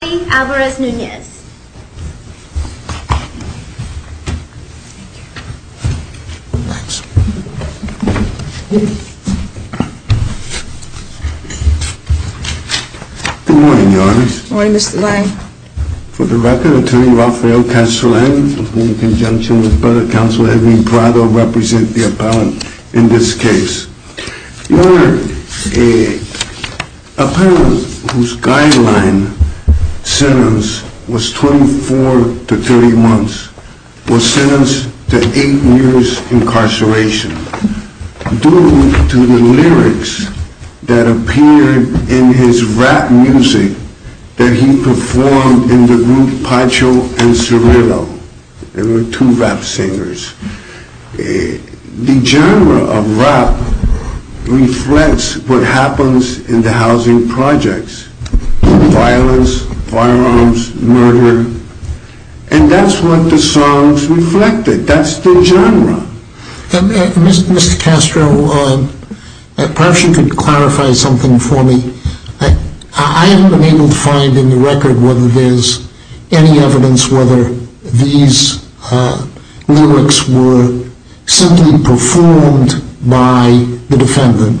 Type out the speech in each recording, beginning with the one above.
Good morning Your Honor. Good morning Mr. Lange. For the record, Attorney Raphael Castellan in conjunction with the Board of Counsel Edwin Prado represent the appellant in this case. Your Honor, an appellant whose guideline sentence was 24 to 30 months was sentenced to 8 years incarceration due to the lyrics that appeared in his rap music that he performed in the group Pacho and Cirillo. There were two rap singers. The genre of rap reflects what happens in the housing projects. Violence, firearms, murder, and that's what the songs reflected. That's the genre. Mr. Castro, perhaps you could clarify something for me. I haven't been able to find in the record whether there's any evidence whether these lyrics were simply performed by the defendant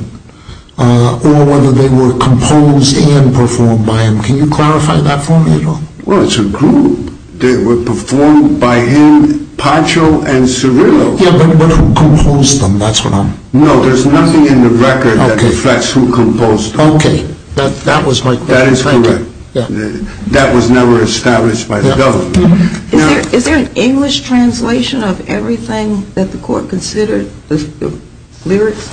or whether they were composed and performed by him. Can you clarify that for me at all? Well, it's a group. They were performed by him, Pacho, and Cirillo. Yeah, but who composed them? That's what I'm... No, there's nothing in the record that reflects who composed them. Okay. That was my question. That is correct. That was never established by the government. Is there an English translation of everything that the court considered? The lyrics?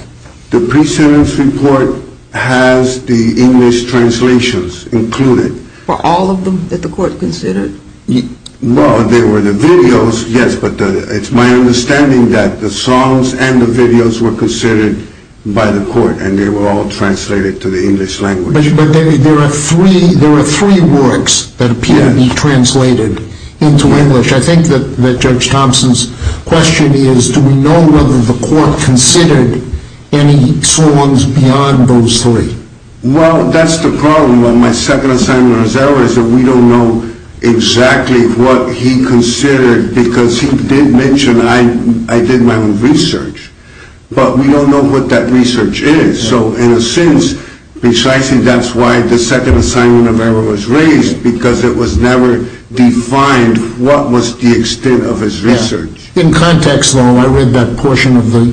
The pre-sentence report has the English translations included. Were all of them that the court considered? Well, there were the videos, yes, but it's my understanding that the songs and the videos were considered by the court and they were all translated to the English language. But there are three works that appear to be translated into English. I think that Judge Thompson's question is, do we know whether the court considered any songs beyond those three? Well, that's the problem with my second assignment of errors is that we don't know exactly what he considered because he did mention I did my own research, but we don't know what that research is. So, in a sense, precisely that's why the second assignment of errors was raised because it was never defined what was the extent of his research. In context, though, I read that portion of the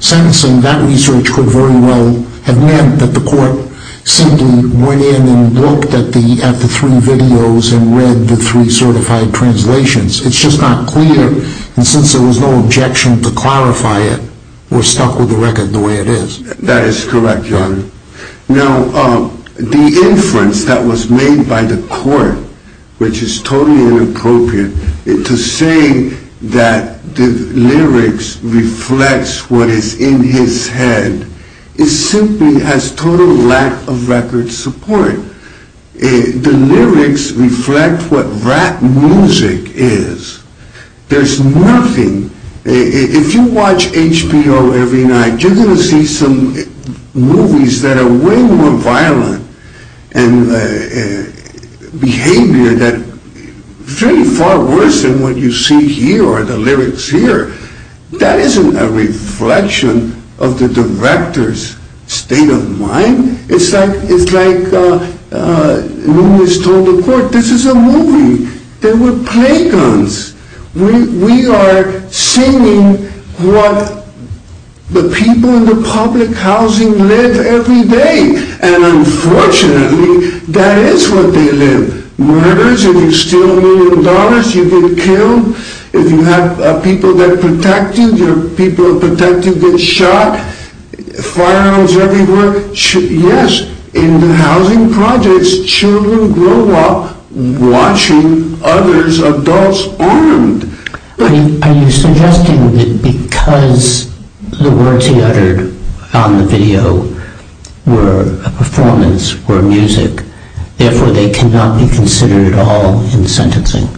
sentencing. That research could very well have meant that the court simply went in and looked at the three videos and read the three certified translations. It's just not clear, and since there was no objection to clarify it, we're stuck with the record the way it is. That is correct, Your Honor. Now, the inference that was made by the court, which is totally inappropriate, to say that the lyrics reflect what is in his head, it simply has total lack of record support. The lyrics reflect what rap music is. There's nothing. If you watch HBO every night, you're going to see some movies that are way more violent and behavior that's really far worse than what you see here or the lyrics here. That isn't a reflection of the director's state of mind. It's like Lewis told the court, this is a movie. They were play guns. We are singing what the people in the public housing live every day, and unfortunately, that is what they live. Murders, if you steal a million dollars, you get killed. If you have people that protect you, your people that protect you get shot. Firearms everywhere. Yes, in the housing projects, children grow up watching other adults armed. Are you suggesting that because the words he uttered on the video were a performance, were music, therefore they cannot be considered at all in sentencing?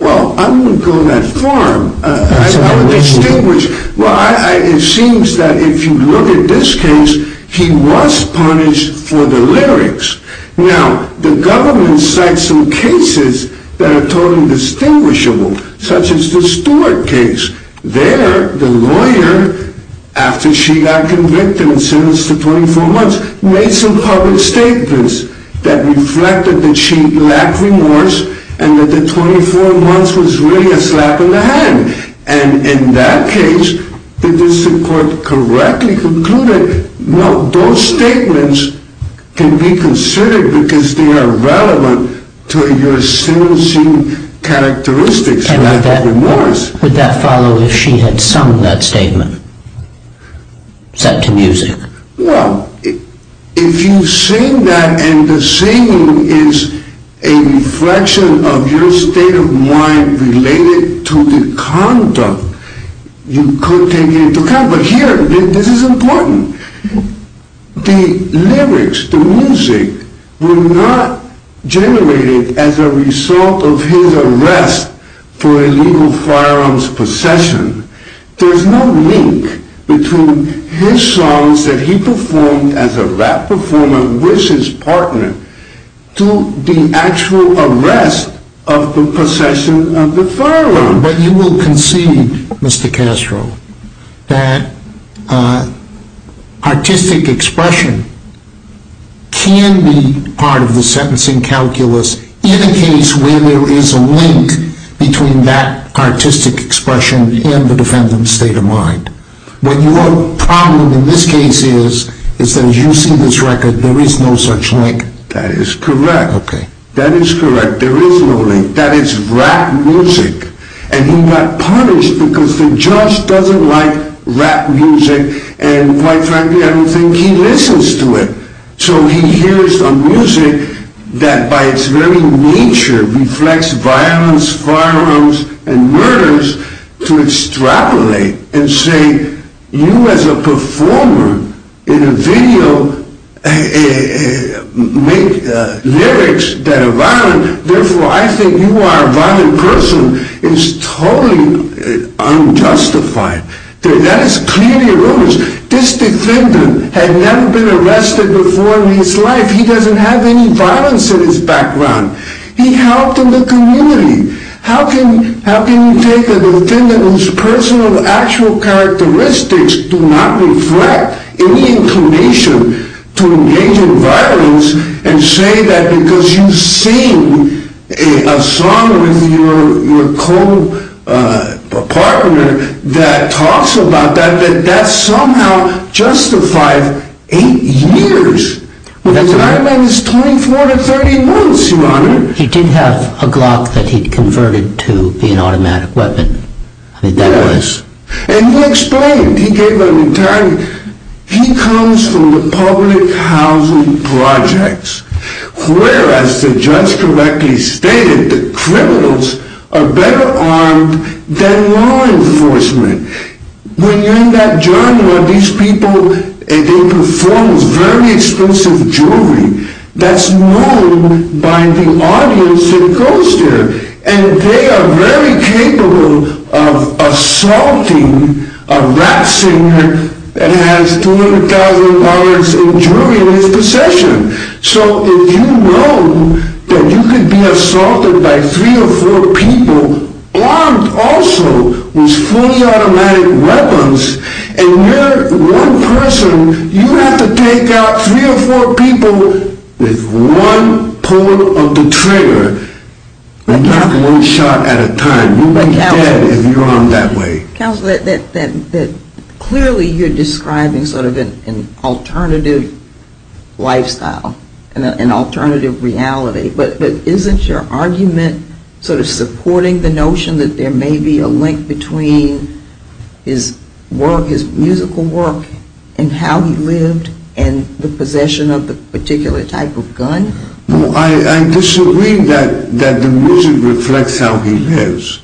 Well, I wouldn't go that far. I would distinguish. It seems that if you look at this case, he was punished for the lyrics. Now, the government cites some cases that are totally distinguishable, such as the Stewart case. There, the lawyer, after she got convicted and sentenced to 24 months, made some public statements that reflected that she lacked remorse and that the 24 months was really a slap in the hand. And in that case, did the Supreme Court correctly conclude that, no, those statements can be considered because they are relevant to your sentencing characteristics, you lack remorse. Would that follow if she had sung that statement, set to music? Well, if you sing that and the singing is a reflection of your state of mind related to the conduct, you could take it into account. But here, this is important. The lyrics, the music, were not generated as a result of his arrest for illegal firearms possession. There's no link between his songs that he performed as a rap performer with his partner to the actual arrest of the possession of the firearm. But you will concede, Mr. Castro, that artistic expression can be part of the sentencing calculus indicates where there is a link between that artistic expression and the defendant's state of mind. But your problem in this case is, is that as you see this record, there is no such link. That is correct. Okay. That is correct. There is no link. That is rap music. And he got punished because the judge doesn't like rap music and quite frankly, I don't think he listens to it. So he hears a music that by its very nature reflects violence, firearms, and murders to extrapolate and say, you as a performer in a video make lyrics that are violent, therefore I think you are a violent person is totally unjustified. That is clearly erroneous. This defendant had never been arrested before in his life. He doesn't have any violence in his background. He helped in the community. How can you take a defendant whose personal actual characteristics do not reflect any inclination to engage in violence and say that because you sing a song with your co-partner that talks about that, that somehow justifies eight years when the time limit is 24 to 30 months, Your Honor. He did have a Glock that he converted to be an automatic weapon. Yes. I mean, that was. And he explained, he gave an entire, he comes from the public housing projects whereas the judge correctly stated that criminals are better armed than law enforcement. When you're in that genre, these people, they perform very expensive jewelry. That's known by the audience that goes there. And they are very capable of assaulting a rap singer that has $200,000 in jewelry in his possession. So if you know that you can be assaulted by three or four people armed also with fully automatic weapons and you're one person, you have to take out three or four people with one pull of the trigger. And you have to one shot at a time. You'll be dead if you're armed that way. Counselor, clearly you're describing sort of an alternative lifestyle, an alternative reality. But isn't your argument sort of supporting the notion that there may be a link between his work, his musical work and how he lived and the possession of the particular type of gun? Well, I disagree that the music reflects how he lives.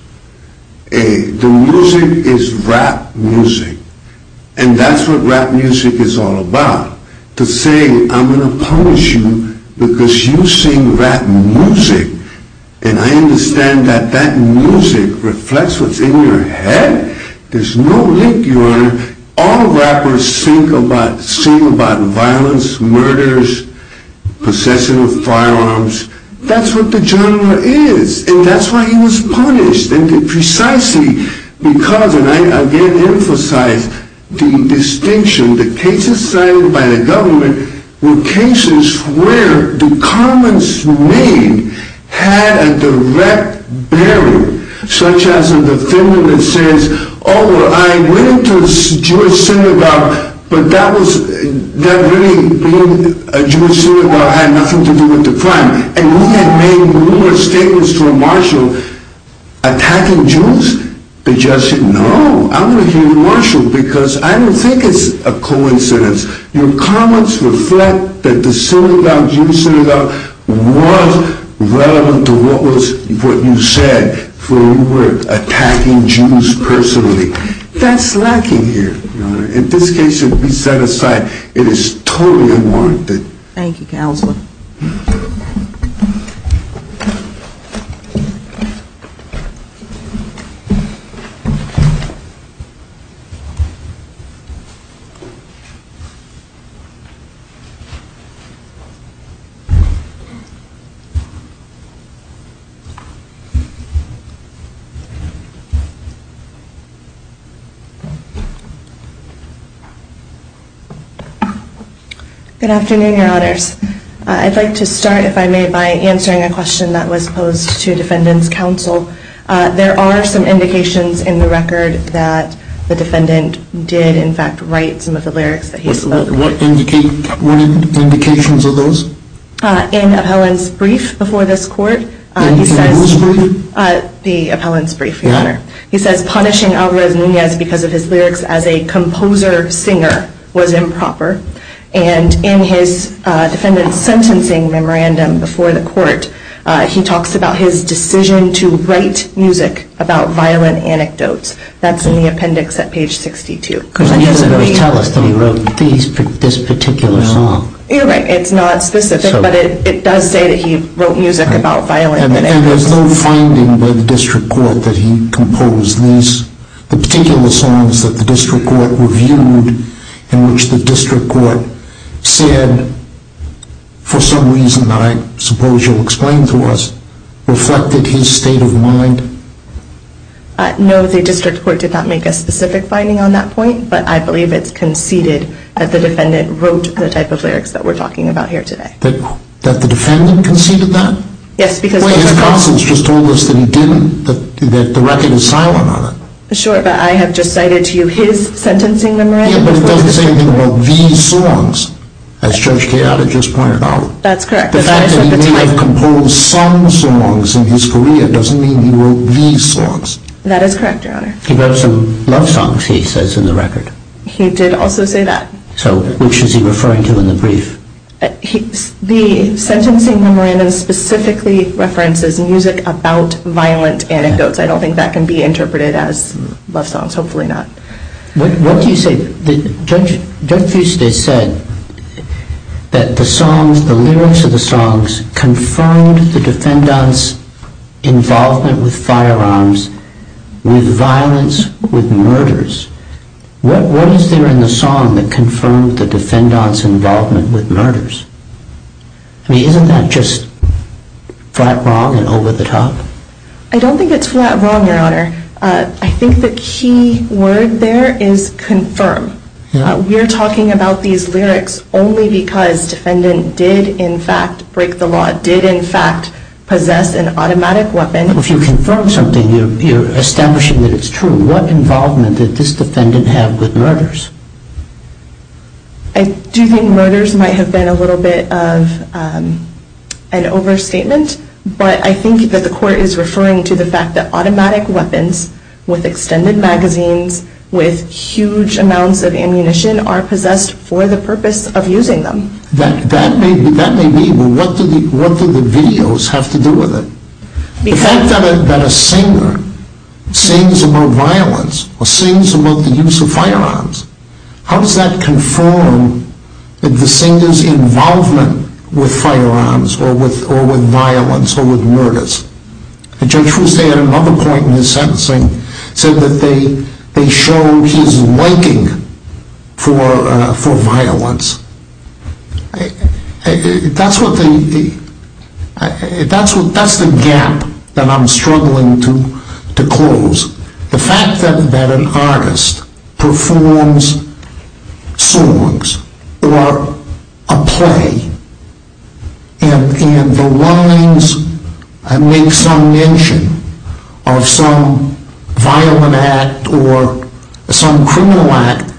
The music is rap music. And that's what rap music is all about. To say I'm going to punish you because you sing rap music and I understand that that music reflects what's in your head. There's no link, Your Honor. All rappers sing about violence, murders, possession of firearms. That's what the genre is. And that's why he was punished. And precisely because, and I again emphasize the distinction, the cases cited by the government were cases where the comments made had a direct bearing, such as a defendant that says, oh, I went into a Jewish synagogue, but that really being a Jewish synagogue had nothing to do with the crime. And we had made numerous statements to a marshal attacking Jews. The judge said, no, I'm going to hear the marshal because I don't think it's a coincidence. Your comments reflect that the synagogue, Jewish synagogue, was relevant to what you said, for you were attacking Jews personally. That's lacking here. In this case, it would be set aside. It is totally unwarranted. Thank you, Counselor. Good afternoon, Your Honors. I'd like to start, if I may, by answering a question that was posed to Defendant's Counsel. There are some indications in the record that the defendant did, in fact, write some of the lyrics that he spoke. What indications are those? In Appellant's brief before this court. In who's brief? The Appellant's brief, Your Honor. He says punishing Alvarez-Nunez because of his lyrics as a composer singer was improper. And in his defendant's sentencing memorandum before the court, he talks about his decision to write music about violent anecdotes. That's in the appendix at page 62. The music does tell us that he wrote this particular song. You're right. It's not specific. But it does say that he wrote music about violent anecdotes. And there's no finding by the district court that he composed these particular songs that the district court reviewed in which the district court said, for some reason that I suppose you'll explain to us, reflected his state of mind? No, the district court did not make a specific finding on that point, but I believe it's conceded that the defendant wrote the type of lyrics that we're talking about here today. That the defendant conceded that? Yes, because the record. His counsel has just told us that he didn't, that the record is silent on it. Sure, but I have just cited to you his sentencing memorandum. Yeah, but it doesn't say anything about these songs, as Judge Keada just pointed out. That's correct. The fact that he may have composed some songs in his career doesn't mean he wrote these songs. That is correct, Your Honor. He wrote some love songs, he says, in the record. He did also say that. So which is he referring to in the brief? The sentencing memorandum specifically references music about violent anecdotes. I don't think that can be interpreted as love songs, hopefully not. What do you say? Judge Fuste said that the songs, the lyrics of the songs, confirmed the defendant's involvement with firearms, with violence, with murders. What is there in the song that confirmed the defendant's involvement with murders? I mean, isn't that just flat wrong and over the top? I don't think it's flat wrong, Your Honor. I think the key word there is confirm. We're talking about these lyrics only because the defendant did, in fact, break the law, did, in fact, possess an automatic weapon. If you confirm something, you're establishing that it's true. What involvement did this defendant have with murders? I do think murders might have been a little bit of an overstatement, but I think that the court is referring to the fact that automatic weapons with extended magazines, with huge amounts of ammunition, are possessed for the purpose of using them. That may be, but what do the videos have to do with it? The fact that a singer sings about violence or sings about the use of firearms, how does that confirm the singer's involvement with firearms or with violence or with murders? Judge Fusay at another point in his sentencing said that they showed his liking for violence. That's the gap that I'm struggling to close. The fact that an artist performs songs or a play and the lines make some mention of some violent act or some criminal act,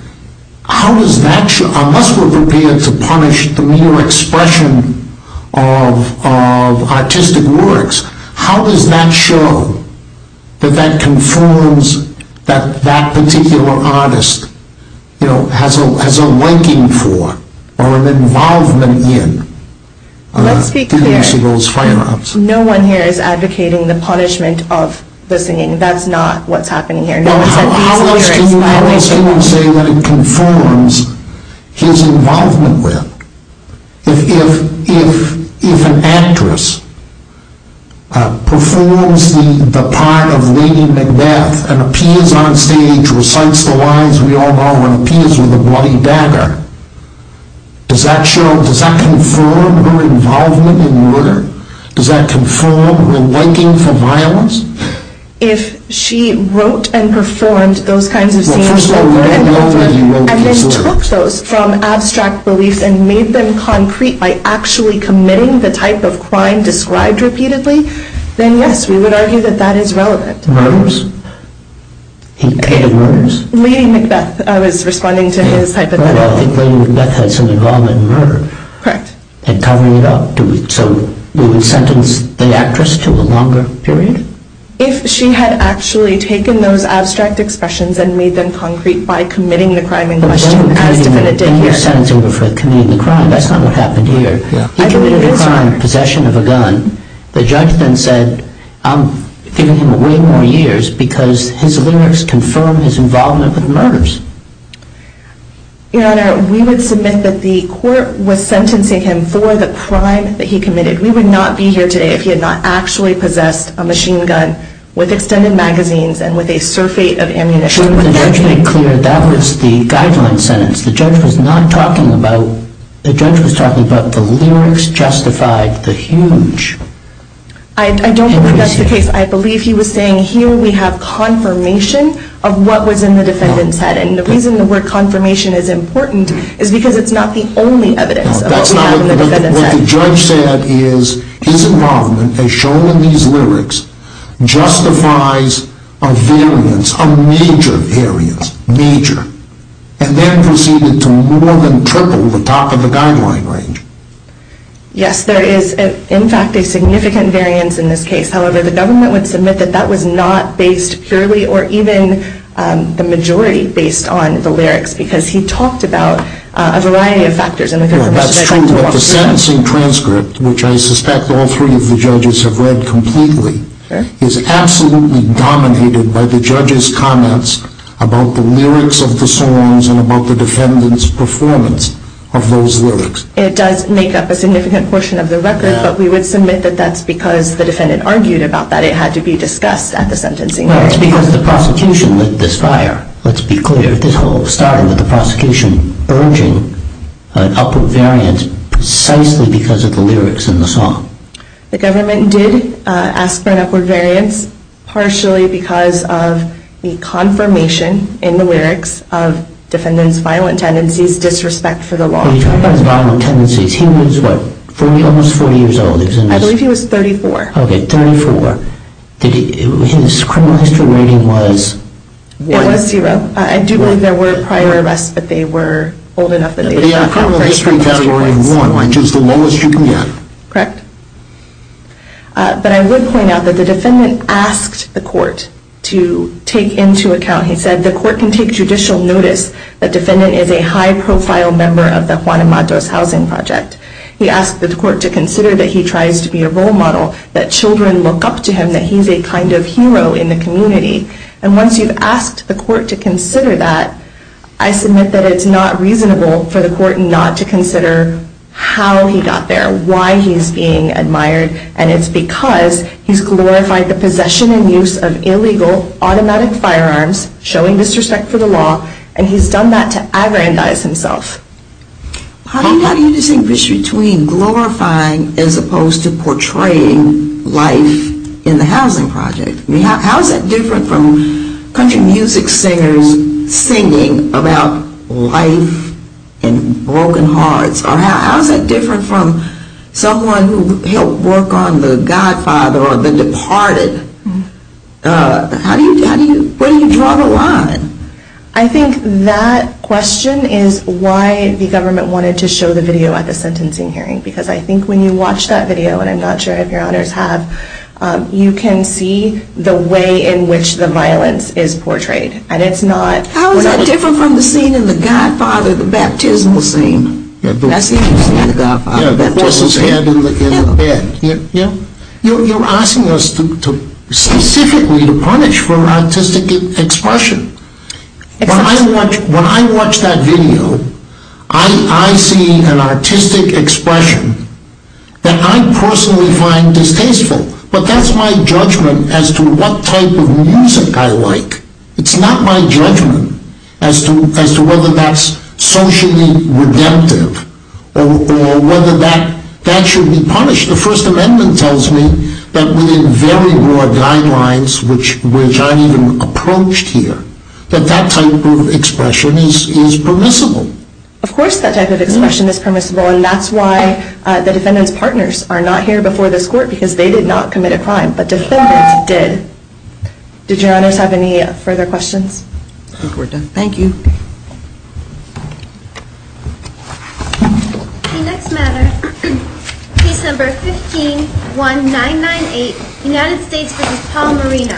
how does that show, unless we're prepared to punish the mere expression of artistic works, how does that show that that confirms that that particular artist has a liking for or an involvement in the use of those firearms? Let's be clear. No one here is advocating the punishment of the singing. That's not what's happening here. How else can you say that it conforms his involvement with? If an actress performs the part of Lady Macbeth and appears on stage, recites the lines we all know, and appears with a bloody dagger, does that confirm her involvement in murder? Does that confirm her liking for violence? If she wrote and performed those kinds of scenes over and over and then took those from abstract beliefs and made them concrete by actually committing the type of crime described repeatedly, then yes, we would argue that that is relevant. Murders? He paid the murders? Lady Macbeth, I was responding to his hypothetical. Well, I think Lady Macbeth had some involvement in murder. Correct. And covering it up, so we would sentence the actress to a longer period? If she had actually taken those abstract expressions and made them concrete by committing the crime in question, as defendant did here. But then you're sentencing her for committing the crime. That's not what happened here. He committed a crime in possession of a gun. The judge then said, I'm giving him way more years because his lyrics confirm his involvement with murders. Your Honor, we would submit that the court was sentencing him for the crime that he committed. We would not be here today if he had not actually possessed a machine gun with extended magazines and with a surfeit of ammunition. Shouldn't the judge make clear that was the guideline sentence? The judge was not talking about, the judge was talking about the lyrics justified the huge. I don't think that's the case. I believe he was saying, here we have confirmation of what was in the defendant's head. And the reason the word confirmation is important is because it's not the only evidence of what we have in the defendant's head. What the judge said is his involvement, as shown in these lyrics, justifies a variance, a major variance, major. And then proceeded to more than triple the top of the guideline range. Yes, there is, in fact, a significant variance in this case. However, the government would submit that that was not based purely or even the majority based on the lyrics. Because he talked about a variety of factors. That's true, but the sentencing transcript, which I suspect all three of the judges have read completely, is absolutely dominated by the judge's comments about the lyrics of the songs and about the defendant's performance of those lyrics. It does make up a significant portion of the record, but we would submit that that's because the defendant argued about that. It had to be discussed at the sentencing hearing. Well, it's because the prosecution lit this fire, let's be clear. This all started with the prosecution urging an upward variance precisely because of the lyrics in the song. The government did ask for an upward variance, partially because of the confirmation in the lyrics of defendant's violent tendencies, disrespect for the law. When you talk about his violent tendencies, he was, what, almost 40 years old? I believe he was 34. Okay, 34. His criminal history rating was 1? It was 0. I do believe there were prior arrests, but they were old enough that they didn't count for any criminal history awards. But he had a criminal history category of 1, which is the lowest you can get. Correct. But I would point out that the defendant asked the court to take into account, he said the court can take judicial notice that defendant is a high-profile member of the Juan Amado's housing project. He asked the court to consider that he tries to be a role model, that children look up to him, that he's a kind of hero in the community. And once you've asked the court to consider that, I submit that it's not reasonable for the court not to consider how he got there, why he's being admired, and it's because he's glorified the possession and use of illegal, automatic firearms, showing disrespect for the law, and he's done that to aggrandize himself. How do you distinguish between glorifying as opposed to portraying life in the housing project? How is that different from country music singers singing about life and broken hearts? Or how is that different from someone who helped work on The Godfather or The Departed? Where do you draw the line? I think that question is why the government wanted to show the video at the sentencing hearing. Because I think when you watch that video, and I'm not sure if your honors have, you can see the way in which the violence is portrayed. How is that different from the scene in The Godfather, the baptismal scene? That's the only scene in The Godfather, the baptismal scene. You're asking us specifically to punish for artistic expression. When I watch that video, I see an artistic expression that I personally find distasteful. But that's my judgment as to what type of music I like. It's not my judgment as to whether that's socially redemptive or whether that should be punished. The First Amendment tells me that within very broad guidelines, which aren't even approached here, that that type of expression is permissible. Of course that type of expression is permissible, and that's why the defendant's partners are not here before this court, because they did not commit a crime, but defendants did. Did your honors have any further questions? I think we're done. Thank you. The next matter, case number 151998, United States v. Paul Marino. Thank you.